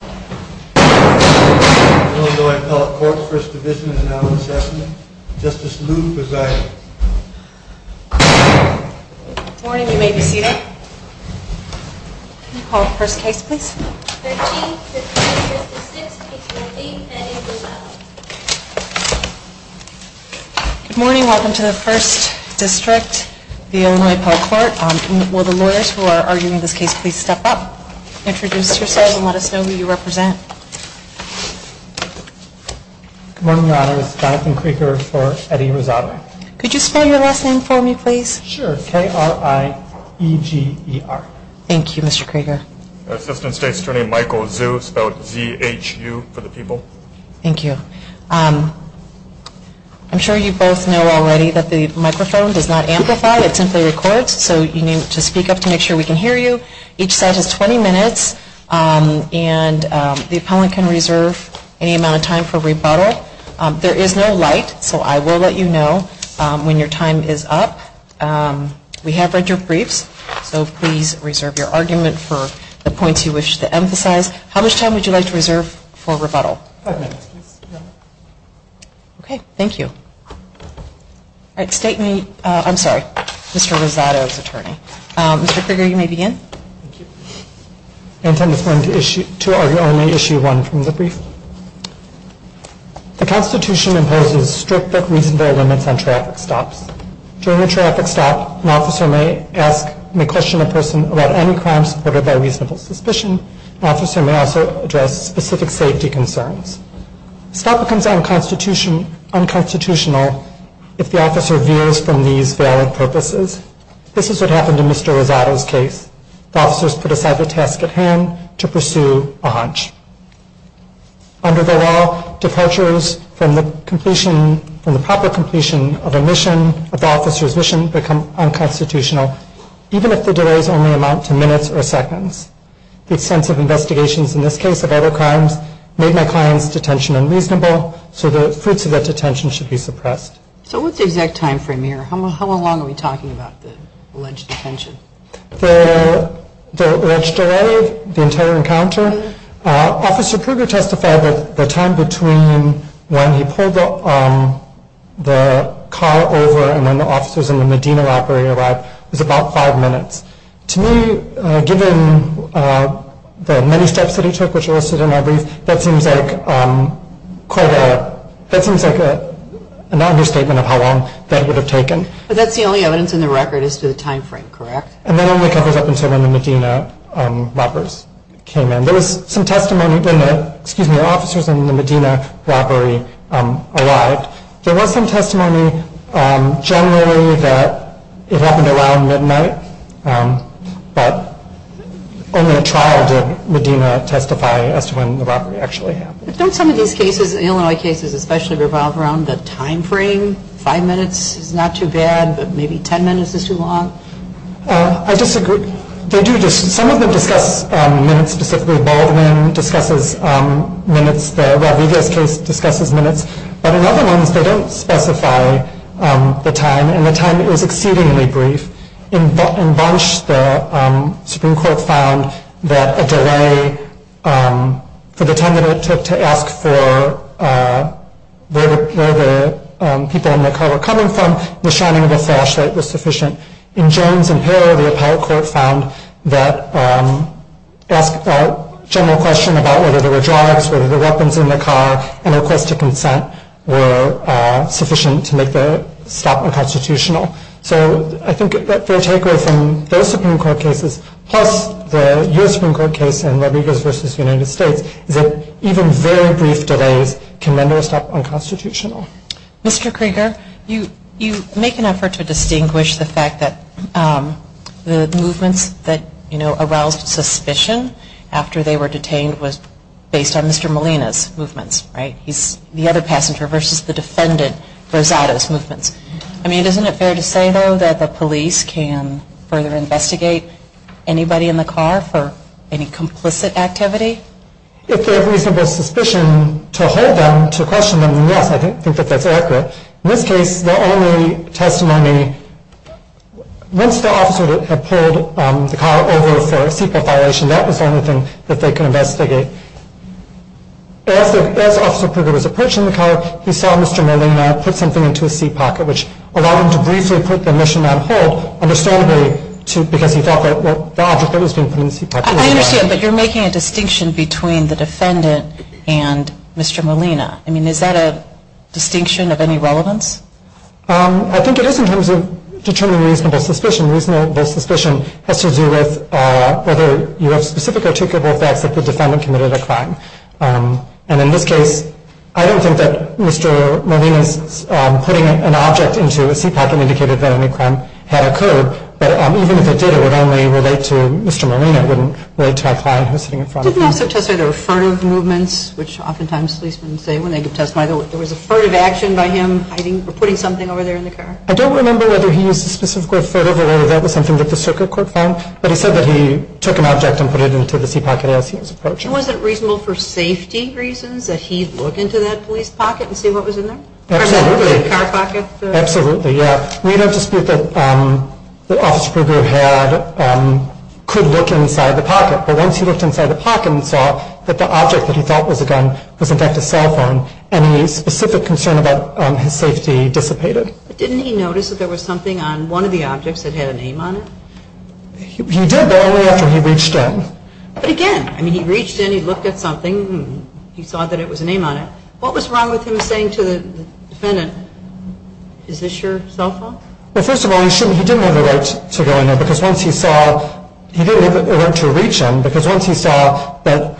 Good morning. Welcome to the 1st District of the Illinois Appellate Court. Will the lawyers who are arguing this case please step up, introduce yourselves, and let us know who you are and where you're from. Good morning, Your Honor. This is Jonathan Krieger for Eddie Rosado. Could you spell your last name for me, please? Sure. K-R-I-E-G-E-R. Thank you, Mr. Krieger. Assistant State Attorney Michael Zhu, spelled Z-H-U for the people. Thank you. I'm sure you both know already that the microphone does not amplify, it simply records, so you need to speak up to make sure we can hear you. Each side has 20 minutes, and the appellant can reserve any amount of time for rebuttal. There is no light, so I will let you know when your time is up. We have read your briefs, so please reserve your argument for the points you wish to emphasize. How much time would you like to reserve for rebuttal? Five minutes, please, Your Honor. Okay, thank you. All right, State Attorney, I'm sorry, Mr. Rosado's attorney. Mr. Krieger, you may begin. I intend to argue only Issue 1 from the brief. The Constitution imposes strict but reasonable limits on traffic stops. During a traffic stop, an officer may question a person about any crime supported by reasonable suspicion. An officer may also address specific safety concerns. A stop becomes unconstitutional if the officer veers from these valid purposes. This is what happened in Mr. Rosado's case. The officers put aside the task at hand to pursue a hunch. Under the law, departures from the proper completion of a mission, of the officer's mission, become unconstitutional, even if the delays only amount to minutes or seconds. The extensive investigations in this case of other crimes made my client's detention unreasonable, so the fruits of that detention should be suppressed. So what's the exact time frame here? How long are we talking about the alleged detention? The alleged delay, the entire encounter? Officer Krieger testified that the time between when he pulled the car over and when the officers and the Medina operator arrived was about five minutes. To me, given the many steps that he took, which are listed in our brief, that seems like quite a, that seems like an understatement of how long that would have taken. But that's the only evidence in the record as to the time frame, correct? And that only covers up until when the Medina robbers came in. There was some testimony during the, excuse me, officers and the Medina robbery arrived. There was some testimony generally that it happened around midnight, but only a trial did Medina testify as to when the robbery actually happened. Don't some of these cases, Illinois cases especially, revolve around the time frame? Five minutes is not too bad, but maybe ten minutes is too long? I disagree. They do, some of them discuss minutes, specifically Baldwin discusses minutes, the Rodriguez case discusses minutes, but in other ones they don't specify the time, and the time is exceedingly brief. In Bunch, the Supreme Court found that a delay for the time that it took to ask for where the people in the car were coming from, the shining of a flashlight was sufficient. In Jones and Perro, the Appellate Court found that, asked a general question about whether there were drugs, whether there were weapons in the car, and requests to consent were sufficient to make the stop unconstitutional. So I think that the takeaway from those Supreme Court cases, plus the U.S. Supreme Court case and Rodriguez v. United States, is that even very brief delays can render a stop unconstitutional. Mr. Krieger, you make an effort to distinguish the fact that the movements that aroused suspicion after they were detained was based on Mr. Molina's movements, right? He's the other passenger versus the defendant, Rosado's movements. I mean, isn't it fair to say, though, that the police can further investigate anybody in the car for any complicit activity? If they have reasonable suspicion to hold them, to question them, then yes, I think that that's accurate. In this case, the only testimony, once the officer had pulled the car over for a seatbelt violation, that was the only thing that they could investigate. As Officer Krieger was approaching the car, he saw Mr. Molina put something into his seat pocket, which allowed him to briefly put the mission on hold, understandably, because he felt that the object that was being put in the seat pocket was a weapon. I understand, but you're making a distinction between the defendant and Mr. Molina. I mean, is that a distinction of any relevance? I think it is in terms of determining reasonable suspicion. Reasonable suspicion has to do with whether you have specific articulable facts that the defendant committed a crime. And in this case, I don't think that Mr. Molina's putting an object into a seat pocket indicated that any crime had occurred. But even if it did, it would only relate to Mr. Molina. It wouldn't relate to our client who's sitting in front of me. You didn't also testify there were furtive movements, which oftentimes policemen say when they give testimony. There was a furtive action by him hiding or putting something over there in the car. I don't remember whether he used the specific word furtive or whether that was something that the circuit court found. But he said that he took an object and put it into the seat pocket as he was approaching. And was it reasonable for safety reasons that he look into that police pocket and see what was in there? Absolutely. Or the car pocket? We don't dispute that Officer Krieger could look inside the pocket. But once he looked inside the pocket and saw that the object that he thought was a gun was in fact a cell phone, any specific concern about his safety dissipated. But didn't he notice that there was something on one of the objects that had a name on it? He did, but only after he reached in. But again, I mean, he reached in, he looked at something, and he saw that it was a name on it. What was wrong with him saying to the defendant, is this your cell phone? Well, first of all, he didn't have the right to go in there. Because once he saw, he didn't have the right to reach him, because once he saw that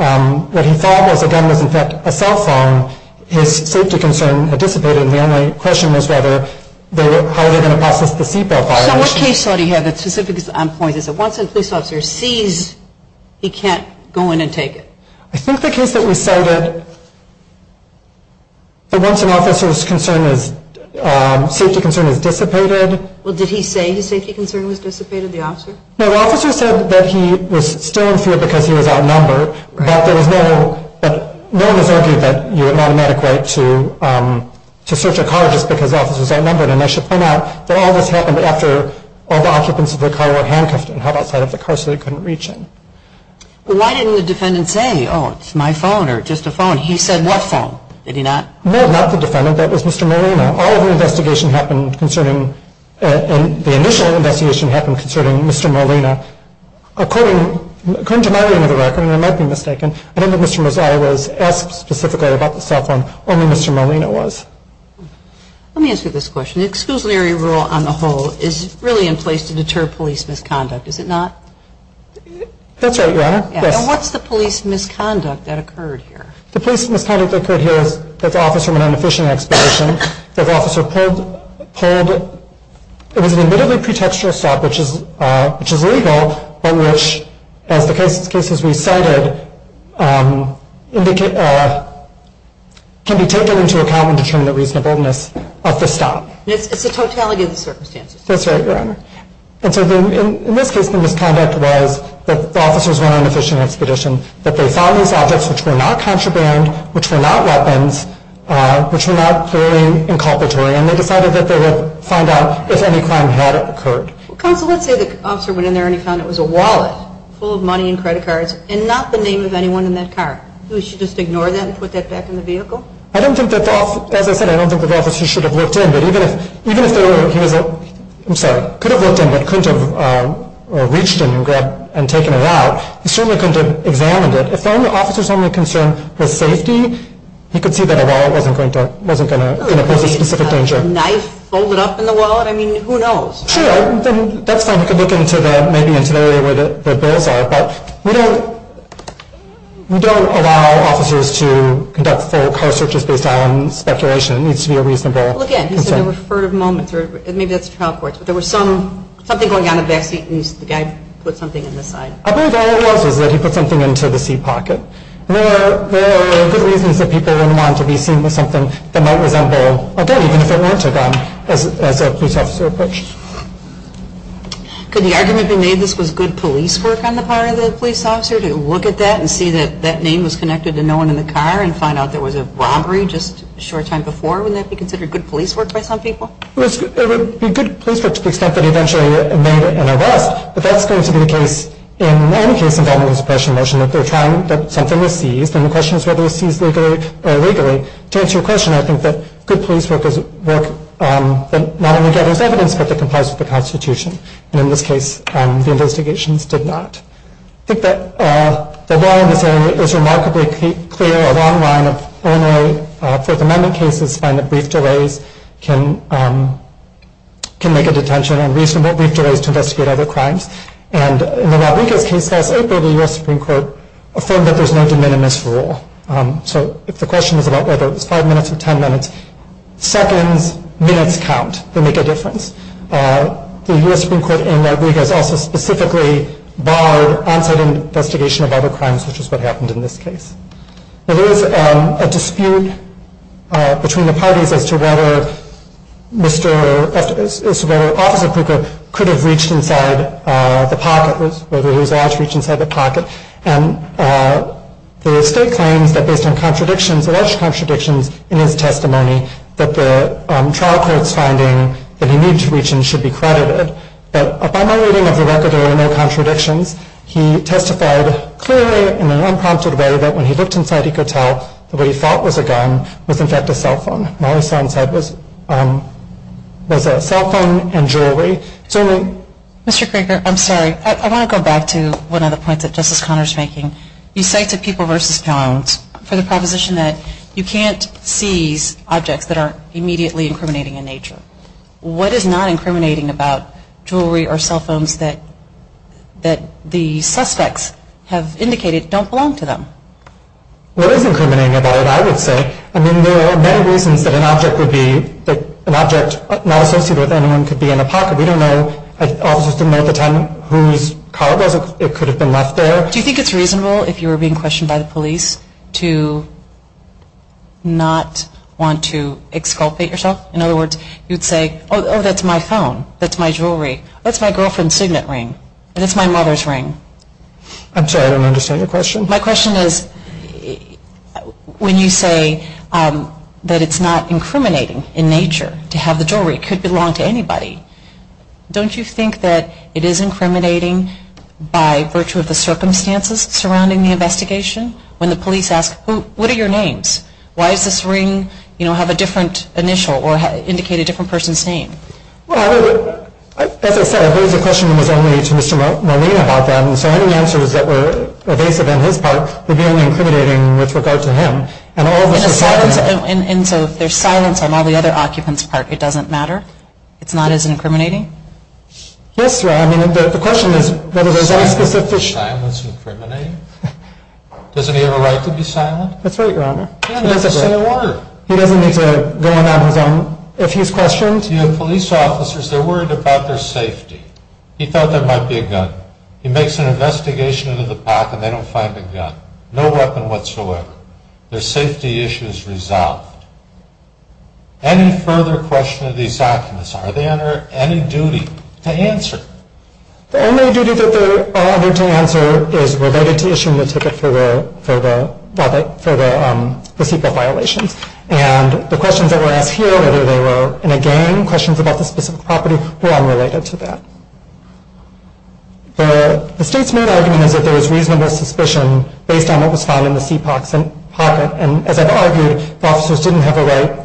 what he thought was a gun was in fact a cell phone, his safety concern dissipated. And the only question was whether, how were they going to process the seatbelt fire? So what case do you have that's specific on points? Is it once a police officer sees, he can't go in and take it? I think the case that we cited, that once an officer's safety concern has dissipated. Well, did he say his safety concern was dissipated, the officer? No, the officer said that he was still in fear because he was outnumbered. But no one has argued that you have an automatic right to search a car just because the officer is outnumbered. And I should point out that all this happened after all the occupants of the car were handcuffed and held outside of the car so they couldn't reach him. Why didn't the defendant say, oh, it's my phone or just a phone? He said what phone? Did he not? No, not the defendant. That was Mr. Molina. All of the investigation happened concerning, and the initial investigation happened concerning Mr. Molina. According to my reading of the record, and I might be mistaken, I don't think Mr. Mozilla was asked specifically about the cell phone, only Mr. Molina was. Let me answer this question. The exclusionary rule on the whole is really in place to deter police misconduct, is it not? That's right, Your Honor. And what's the police misconduct that occurred here? The police misconduct that occurred here is that the officer went on a fishing expedition, that the officer pulled, it was an admittedly pretextual stop, which is legal, but which, as the cases we cited, can be taken into account in determining the reasonableness of the stop. It's the totality of the circumstances. That's right, Your Honor. And so in this case, the misconduct was that the officers went on a fishing expedition, that they found these objects which were not contraband, which were not weapons, which were not clearly inculpatory, and they decided that they would find out if any crime had occurred. Counsel, let's say the officer went in there and he found it was a wallet full of money and credit cards and not the name of anyone in that car. Do we should just ignore that and put that back in the vehicle? I don't think that the officer, as I said, I don't think that the officer should have looked in, but even if they were, he was, I'm sorry, could have looked in, but couldn't have reached in and taken it out. He certainly couldn't have examined it. If the officer's only concern was safety, he could see that a wallet wasn't going to pose a specific danger. A knife folded up in the wallet? I mean, who knows? Sure. That's fine. He could look maybe into the area where the bills are, but we don't allow officers to conduct full car searches based on speculation. It needs to be a reasonable concern. Well, again, he said there were furtive moments. Maybe that's trial courts, but there was something going on in the backseat and the guy put something in the side. I believe all it was was that he put something into the seat pocket. There are good reasons that people wouldn't want to be seen with something that might resemble a gun, even if it weren't a gun, as a police officer approached. Could the argument be made this was good police work on the part of the police officer to look at that and see that that name was connected to no one in the car and find out there was a robbery just a short time before? Wouldn't that be considered good police work by some people? It would be good police work to the extent that eventually it made an arrest, but that's going to be the case in any case involving a suppression motion, that something was seized, and the question is whether it was seized legally. To answer your question, I think that good police work is work that not only gathers evidence, but that complies with the Constitution. And in this case, the investigations did not. I think that the law in this area is remarkably clear. A long line of ornery Fourth Amendment cases find that brief delays can make a detention and reasonable brief delays to investigate other crimes. And in the Rodriguez case last April, the U.S. Supreme Court affirmed that there's no de minimis rule. So if the question is about whether it was five minutes or ten minutes, seconds, minutes count. They make a difference. The U.S. Supreme Court in Rodriguez also specifically barred on-site investigation of other crimes, which is what happened in this case. There is a dispute between the parties as to whether Officer Kruger could have reached inside the pocket, whether he was allowed to reach inside the pocket. And the state claims that based on contradictions, alleged contradictions in his testimony, that the trial court's finding that he needed to reach in should be credited. But by my reading of the record, there were no contradictions. He testified clearly in an unprompted way that when he looked inside, he could tell that what he thought was a gun was, in fact, a cell phone. All he saw inside was a cell phone and jewelry. Mr. Kruger, I'm sorry. I want to go back to one of the points that Justice Conner is making. You say to People v. Jones for the proposition that you can't seize objects that are immediately incriminating in nature. What is not incriminating about jewelry or cell phones that the suspects have indicated don't belong to them? What is incriminating about it, I would say? I mean, there are many reasons that an object not associated with anyone could be in a pocket. We don't know. Officers didn't know at the time whose car it was. It could have been left there. Do you think it's reasonable, if you were being questioned by the police, to not want to exculpate yourself? In other words, you'd say, oh, that's my phone. That's my jewelry. That's my girlfriend's signet ring. That's my mother's ring. I'm sorry. I don't understand your question. My question is, when you say that it's not incriminating in nature to have the jewelry, it could belong to anybody, don't you think that it is incriminating by virtue of the circumstances surrounding the investigation? When the police ask, what are your names? Why does this ring, you know, have a different initial or indicate a different person's name? Well, as I said, I believe the question was only to Mr. Molina about that. And so any answers that were evasive on his part would be only incriminating with regard to him. And all of us decided that. And so if there's silence on all the other occupants' part, it doesn't matter? It's not as incriminating? Yes, Your Honor. I mean, the question is whether there's any specific – Silence is incriminating? Doesn't he have a right to be silent? That's right, Your Honor. He doesn't need to go on his own if he's questioned. You have police officers, they're worried about their safety. He thought there might be a gun. He makes an investigation into the pack and they don't find a gun. No weapon whatsoever. Their safety issue is resolved. The only duty that they are under to answer is related to issuing the ticket for the CEPOC violations. And the questions that were asked here, whether they were in a gang, questions about the specific property, were unrelated to that. The State's main argument is that there was reasonable suspicion based on what was found in the CEPOC's pocket. And as I've argued, the officers didn't have a right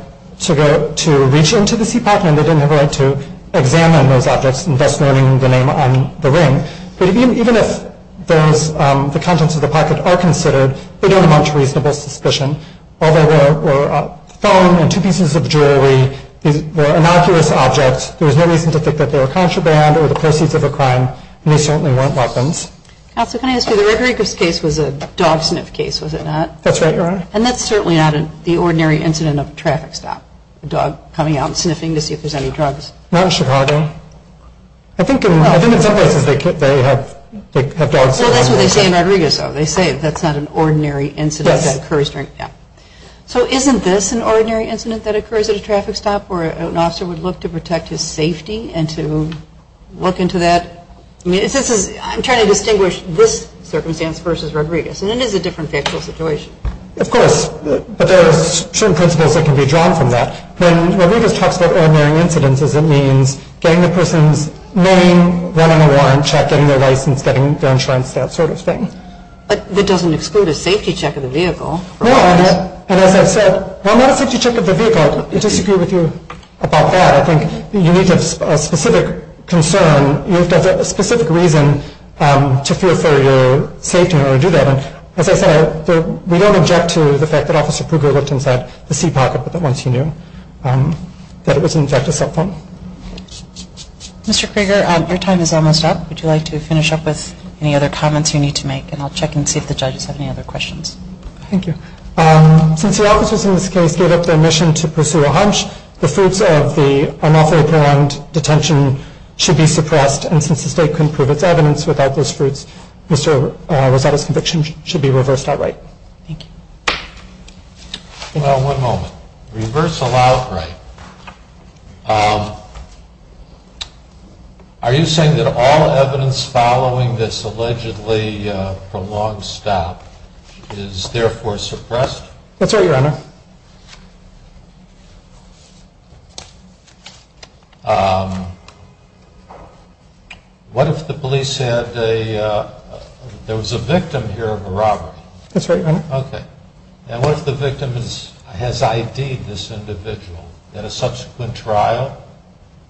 to reach into the CEPOC and they didn't have a right to examine those objects and thus learning the name on the ring. But even if the contents of the pocket are considered, they don't amount to reasonable suspicion. All they were were a phone and two pieces of jewelry. These were innocuous objects. There was no reason to think that they were contraband or the proceeds of a crime. And they certainly weren't weapons. Counsel, can I ask you, the Rodriguez case was a dog sniff case, was it not? That's right, Your Honor. And that's certainly not the ordinary incident of a traffic stop. A dog coming out and sniffing to see if there's any drugs. Not in Chicago. I think in some places they have dogs sniffing. Well, that's what they say in Rodriguez, though. They say that's not an ordinary incident that occurs during, yeah. So isn't this an ordinary incident that occurs at a traffic stop where an officer would look to protect his safety and to look into that? I mean, I'm trying to distinguish this circumstance versus Rodriguez. And it is a different factual situation. Of course. But there are certain principles that can be drawn from that. When Rodriguez talks about ordinary incidents, it means getting the person's name, running a warrant check, getting their license, getting their insurance, that sort of thing. But that doesn't exclude a safety check of the vehicle. No, and as I've said, well, not a safety check of the vehicle. I disagree with you about that. I think you need to have a specific concern. You have to have a specific reason to feel for your safety in order to do that. As I said, we don't object to the fact that Officer Krueger looked inside the seat pocket, but that once he knew that it was, in fact, a cell phone. Mr. Krueger, your time is almost up. Would you like to finish up with any other comments you need to make? And I'll check and see if the judges have any other questions. Thank you. Since the officers in this case gave up their mission to pursue a hunch, the fruits of the unlawfully prolonged detention should be suppressed. And since the state couldn't prove its evidence without those fruits, Mr. Rosado's conviction should be reversed outright. Thank you. Well, one moment. Reversal outright. Are you saying that all evidence following this allegedly prolonged stop is therefore suppressed? That's right, Your Honor. What if the police had a ‑‑ there was a victim here of a robbery? That's right, Your Honor. Okay. And what if the victim has ID'd this individual? In a subsequent trial,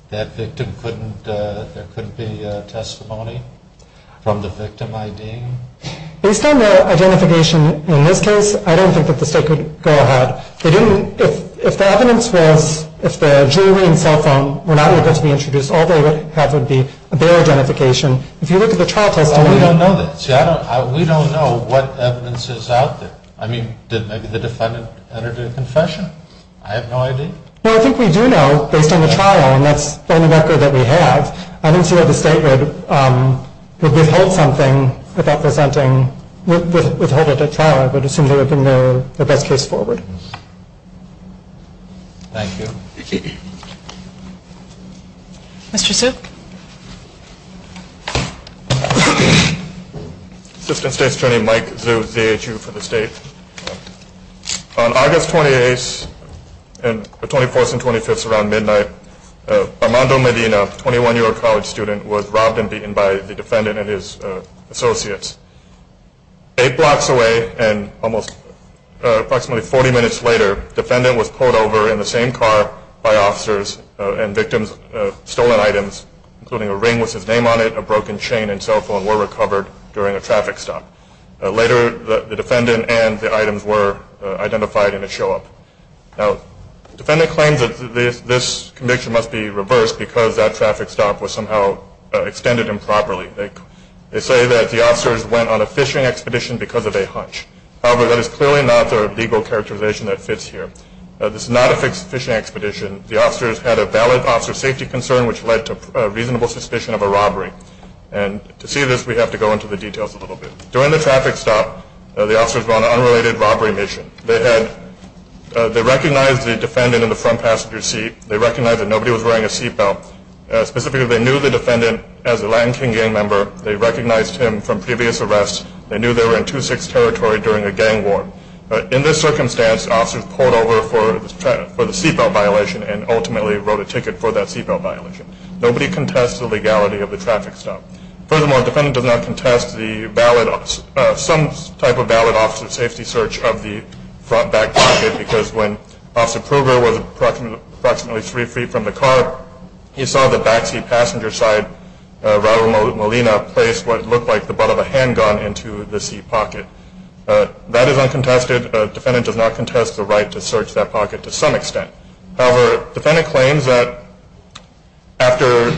that victim couldn't ‑‑ there couldn't be testimony from the victim ID? Based on the identification in this case, I don't think that the state could go ahead If the evidence was ‑‑ if the jewelry and cell phone were not able to be introduced, all they would have would be a bare identification. If you look at the trial testimony ‑‑ We don't know that. We don't know what evidence is out there. I mean, did maybe the defendant enter into a confession? I have no idea. Well, I think we do know, based on the trial, and that's the only record that we have, I don't see how the state would withhold something without presenting, withholding a trial. I would assume that would have been the best case forward. Thank you. Mr. Su. Assistant State Attorney Mike Su, ZHU for the state. On August 28th, 24th and 25th, around midnight, Armando Medina, a 21‑year‑old college student, was robbed and beaten by the defendant and his associates. Eight blocks away and almost approximately 40 minutes later, the defendant was pulled over in the same car by officers and victims of stolen items, including a ring with his name on it, a broken chain and cell phone, were recovered during a traffic stop. Later, the defendant and the items were identified in a show up. Now, the defendant claims that this conviction must be reversed because that traffic stop was somehow extended improperly. They say that the officers went on a fishing expedition because of a hunch. However, that is clearly not the legal characterization that fits here. This is not a fishing expedition. The officers had a valid officer safety concern, which led to reasonable suspicion of a robbery. And to see this, we have to go into the details a little bit. During the traffic stop, the officers were on an unrelated robbery mission. They recognized the defendant in the front passenger seat. They recognized that nobody was wearing a seat belt. Specifically, they knew the defendant as a Land King gang member. They recognized him from previous arrests. They knew they were in 2-6 territory during a gang war. In this circumstance, officers pulled over for the seat belt violation and ultimately wrote a ticket for that seat belt violation. Nobody contests the legality of the traffic stop. Furthermore, the defendant does not contest some type of valid officer safety search of the front back pocket because when Officer Pruger was approximately three feet from the car, he saw the backseat passenger side, Raul Molina, place what looked like the butt of a handgun into the seat pocket. That is uncontested. The defendant does not contest the right to search that pocket to some extent. However, the defendant claims that after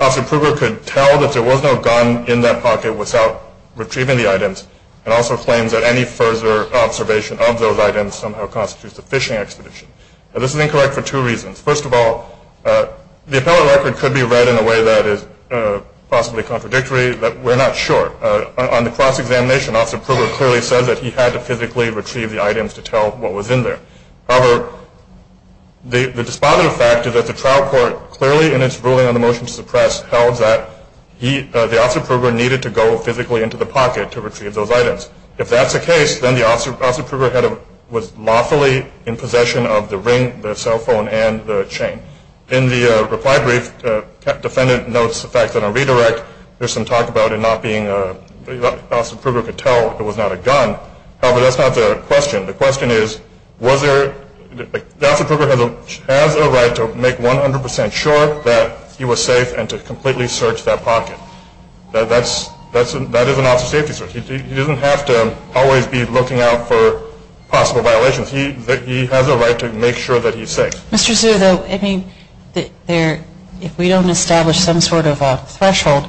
Officer Pruger could tell that there was no gun in that pocket without retrieving the items and also claims that any further observation of those items somehow constitutes a phishing expedition. Now, this is incorrect for two reasons. First of all, the appellate record could be read in a way that is possibly contradictory, but we're not sure. On the cross-examination, Officer Pruger clearly says that he had to physically retrieve the items to tell what was in there. However, the despondent fact is that the trial court clearly in its ruling on the motion to suppress held that the Officer Pruger needed to go physically into the pocket to retrieve those items. If that's the case, then the Officer Pruger was lawfully in possession of the ring, the cell phone, and the chain. In the reply brief, the defendant notes the fact that on redirect, there's some talk about Officer Pruger could tell it was not a gun. However, that's not the question. The question is, was there – the Officer Pruger has a right to make 100% sure that he was safe and to completely search that pocket. That is an officer safety search. He doesn't have to always be looking out for possible violations. He has a right to make sure that he's safe. Mr. Su, though, I mean, if we don't establish some sort of a threshold,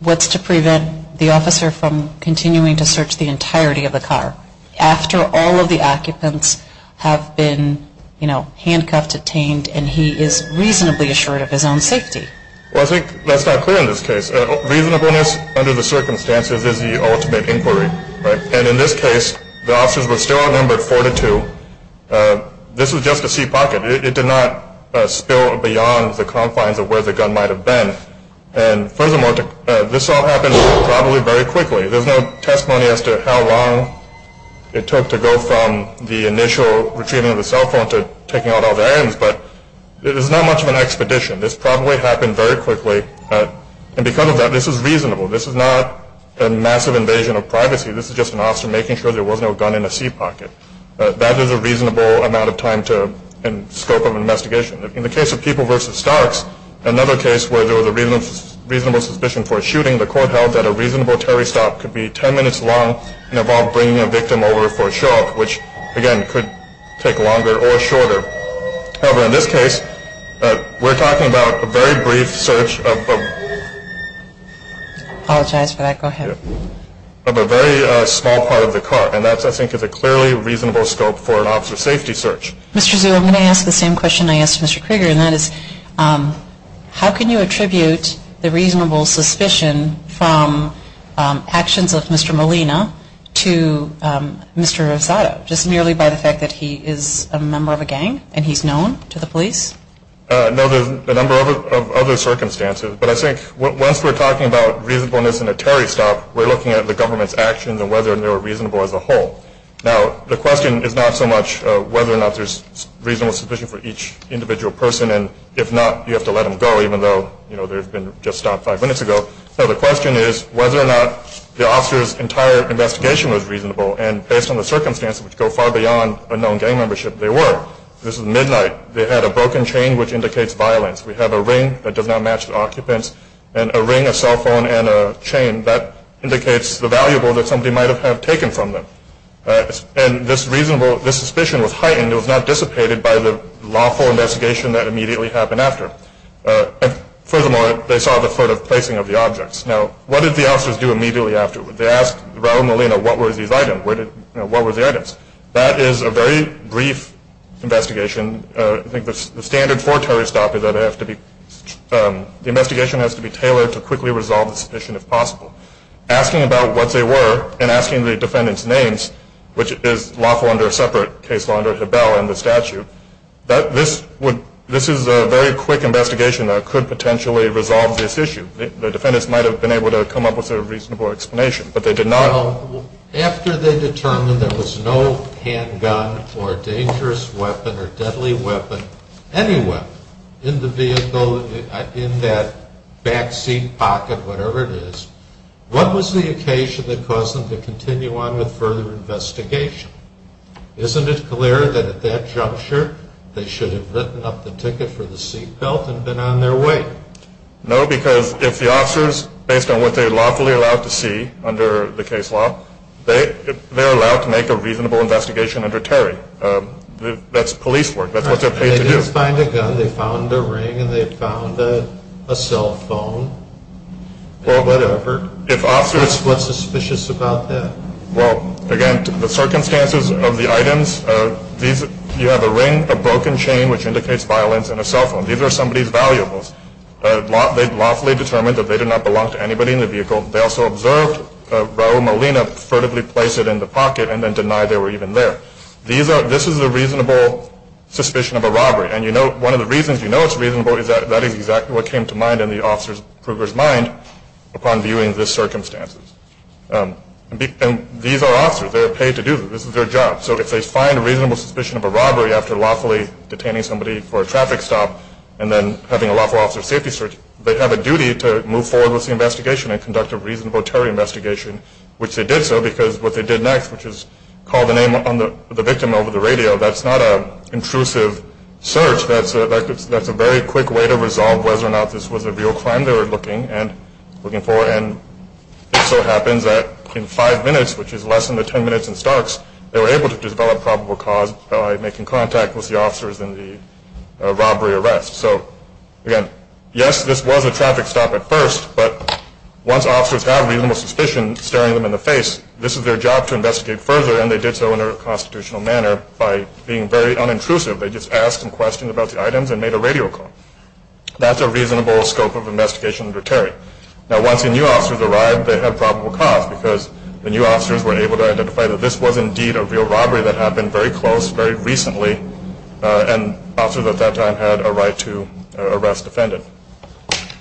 what's to prevent the officer from continuing to search the entirety of the car? After all of the occupants have been, you know, handcuffed, detained, and he is reasonably assured of his own safety. Well, I think that's not clear in this case. Reasonableness under the circumstances is the ultimate inquiry, right? And in this case, the officers were still outnumbered four to two. This was just a seat pocket. It did not spill beyond the confines of where the gun might have been. And furthermore, this all happened probably very quickly. There's no testimony as to how long it took to go from the initial retrieving of the cell phone to taking out all the items, but it is not much of an expedition. This probably happened very quickly. And because of that, this is reasonable. This is not a massive invasion of privacy. This is just an officer making sure there was no gun in a seat pocket. That is a reasonable amount of time and scope of an investigation. In the case of People v. Starks, another case where there was a reasonable suspicion for a shooting, the court held that a reasonable terry stop could be ten minutes long and involve bringing a victim over for a show-off, which, again, could take longer or shorter. However, in this case, we're talking about a very brief search of a very small part of the car, and that, I think, is a clearly reasonable scope for an officer safety search. Mr. Zhu, I'm going to ask the same question I asked Mr. Krieger, and that is how can you attribute the reasonable suspicion from actions of Mr. Molina to Mr. Rosado, just merely by the fact that he is a member of a gang and he's known to the police? No, there's a number of other circumstances, but I think once we're talking about reasonableness in a terry stop, we're looking at the government's actions and whether they were reasonable as a whole. Now, the question is not so much whether or not there's reasonable suspicion for each individual person, and if not, you have to let them go, even though they've been just stopped five minutes ago. No, the question is whether or not the officer's entire investigation was reasonable, and based on the circumstances, which go far beyond a known gang membership, they were. This was midnight. They had a broken chain, which indicates violence. We have a ring that does not match the occupant's, and a ring, a cell phone, and a chain, and that indicates the valuable that somebody might have taken from them. And this suspicion was heightened. It was not dissipated by the lawful investigation that immediately happened after. Furthermore, they saw the sort of placing of the objects. Now, what did the officers do immediately after? They asked Raul Molina, what were these items? That is a very brief investigation. I think the standard for a terry stop is that the investigation has to be tailored to quickly resolve the suspicion if possible. Asking about what they were and asking the defendants' names, which is lawful under a separate case law under Habel and the statute, this is a very quick investigation that could potentially resolve this issue. The defendants might have been able to come up with a reasonable explanation, but they did not. After they determined there was no handgun or dangerous weapon or deadly weapon anywhere in the vehicle, in that back seat pocket, whatever it is, what was the occasion that caused them to continue on with further investigation? Isn't it clear that at that juncture they should have written up the ticket for the seat belt and been on their way? No, because if the officers, based on what they're lawfully allowed to see under the case law, they're allowed to make a reasonable investigation under Terry. That's police work. That's what they're paid to do. If the officers find a gun, they found a ring and they found a cell phone, whatever, what's suspicious about that? Well, again, the circumstances of the items, you have a ring, a broken chain, which indicates violence, and a cell phone. These are somebody's valuables. They lawfully determined that they did not belong to anybody in the vehicle. They also observed Raul Molina furtively place it in the pocket and then deny they were even there. This is a reasonable suspicion of a robbery, and one of the reasons you know it's reasonable is that that is exactly what came to mind in the officer's mind upon viewing the circumstances. And these are officers. They're paid to do this. This is their job. So if they find a reasonable suspicion of a robbery after lawfully detaining somebody for a traffic stop and then having a lawful officer safety search, they have a duty to move forward with the investigation and conduct a reasonable Terry investigation, which they did so because what they did next, which is call the name of the victim over the radio, that's not an intrusive search. That's a very quick way to resolve whether or not this was a real crime they were looking for. And it so happens that in five minutes, which is less than the ten minutes in Starks, they were able to develop probable cause by making contact with the officers in the robbery arrest. So, again, yes, this was a traffic stop at first, but once officers have reasonable suspicion staring them in the face, this is their job to investigate further, and they did so in a constitutional manner by being very unintrusive. They just asked some questions about the items and made a radio call. That's a reasonable scope of investigation under Terry. Now, once the new officers arrived, they had probable cause because the new officers were able to identify that this was indeed a real robbery that happened very close, very recently, and officers at that time had a right to arrest the defendant.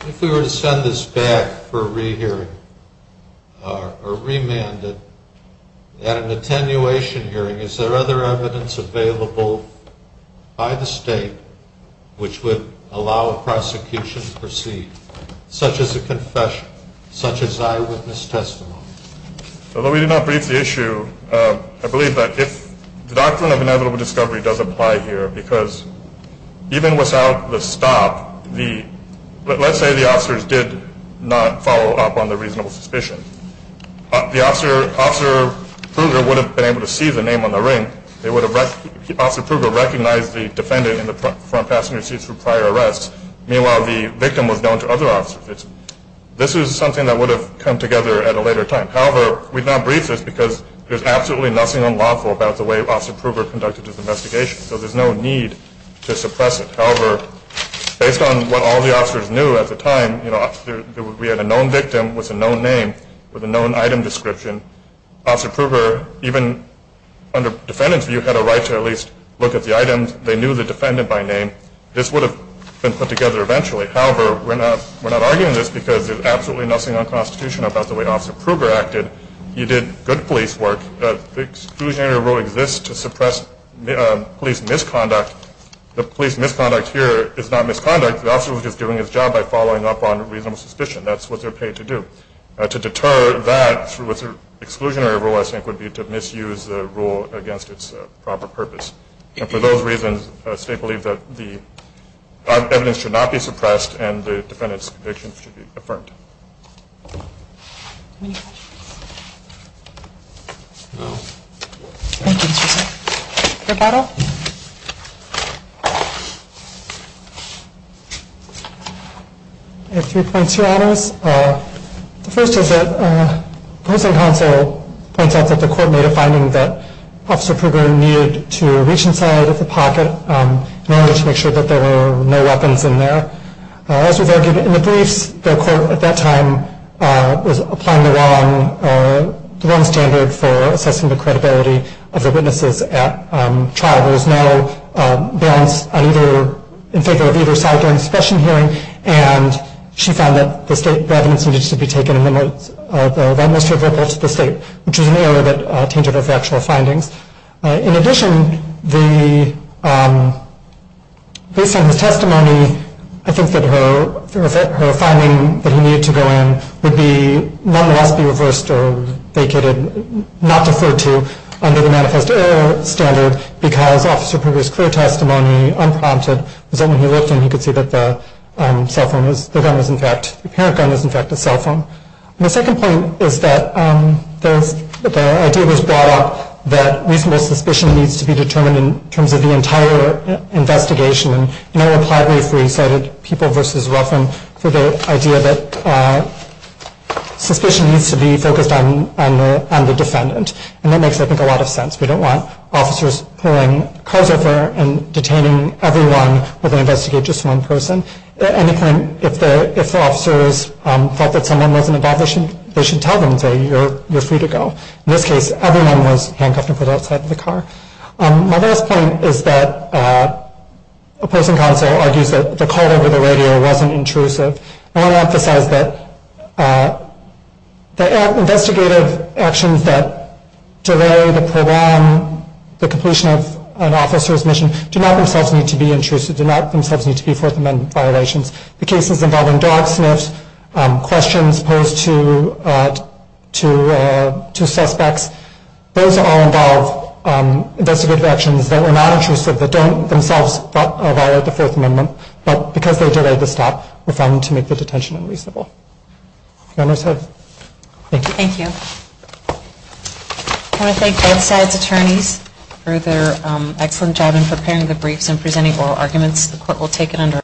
If we were to send this back for rehearing or remanded at an attenuation hearing, is there other evidence available by the state which would allow a prosecution to proceed, such as a confession, such as eyewitness testimony? Although we did not brief the issue, I believe that if the Doctrine of Inevitable Discovery does apply here, because even without the stop, let's say the officers did not follow up on the reasonable suspicion. Officer Pruger would have been able to see the name on the ring. Officer Pruger recognized the defendant in the front passenger seat through prior arrests. Meanwhile, the victim was known to other officers. This is something that would have come together at a later time. However, we did not brief this because there's absolutely nothing unlawful about the way Officer Pruger conducted his investigation, so there's no need to suppress it. However, based on what all the officers knew at the time, we had a known victim with a known name with a known item description. Officer Pruger, even under defendant's view, had a right to at least look at the items. They knew the defendant by name. This would have been put together eventually. However, we're not arguing this because there's absolutely nothing unconstitutional about the way Officer Pruger acted. You did good police work. The exclusionary rule exists to suppress police misconduct. The police misconduct here is not misconduct. The officer was just doing his job by following up on reasonable suspicion. That's what they're paid to do. To deter that through exclusionary rule, I think, would be to misuse the rule against its proper purpose. And for those reasons, the state believes that the evidence should not be suppressed and the defendant's conviction should be affirmed. Any questions? No. Thank you, Mr. Chief. Your battle. I have three points to add on this. The first is that the housing council points out that the court made a finding that Officer Pruger needed to reach inside of the pocket in order to make sure that there were no weapons in there. As was argued in the briefs, the court at that time was applying the wrong standard for assessing the credibility of the witnesses at trial. There was no guns in favor of either side during the suppression hearing, and she found that the state evidence needed to be taken in the utmost favorable to the state, which was an error that tainted her factual findings. In addition, based on this testimony, I think that her finding that he needed to go in would nonetheless be reversed or vacated, not deferred to under the manifest error standard because Officer Pruger's clear testimony, unprompted, was that when he looked in, he could see that the parent gun was in fact a cell phone. My second point is that the idea was brought up that reasonable suspicion needs to be determined in terms of the entire investigation. And I replied briefly, cited People v. Ruffin, for the idea that suspicion needs to be focused on the defendant, and that makes, I think, a lot of sense. We don't want officers pulling cars over and detaining everyone where they investigate just one person. At any point, if the officers felt that someone was an abuser, they should tell them, say, you're free to go. In this case, everyone was handcuffed and put outside of the car. My last point is that opposing counsel argues that the call over the radio wasn't intrusive. I want to emphasize that the investigative actions that delay, that prolong the completion of an officer's mission do not themselves need to be intrusive, do not themselves need to be Fourth Amendment violations. The cases involving dog sniffs, questions posed to suspects, those all involve investigative actions that were not intrusive, that don't themselves violate the Fourth Amendment, but because they delayed the stop, were found to make the detention unreasonable. Your Honor's heard. Thank you. Thank you. I want to thank both sides' attorneys for their excellent job The court will take it under writing.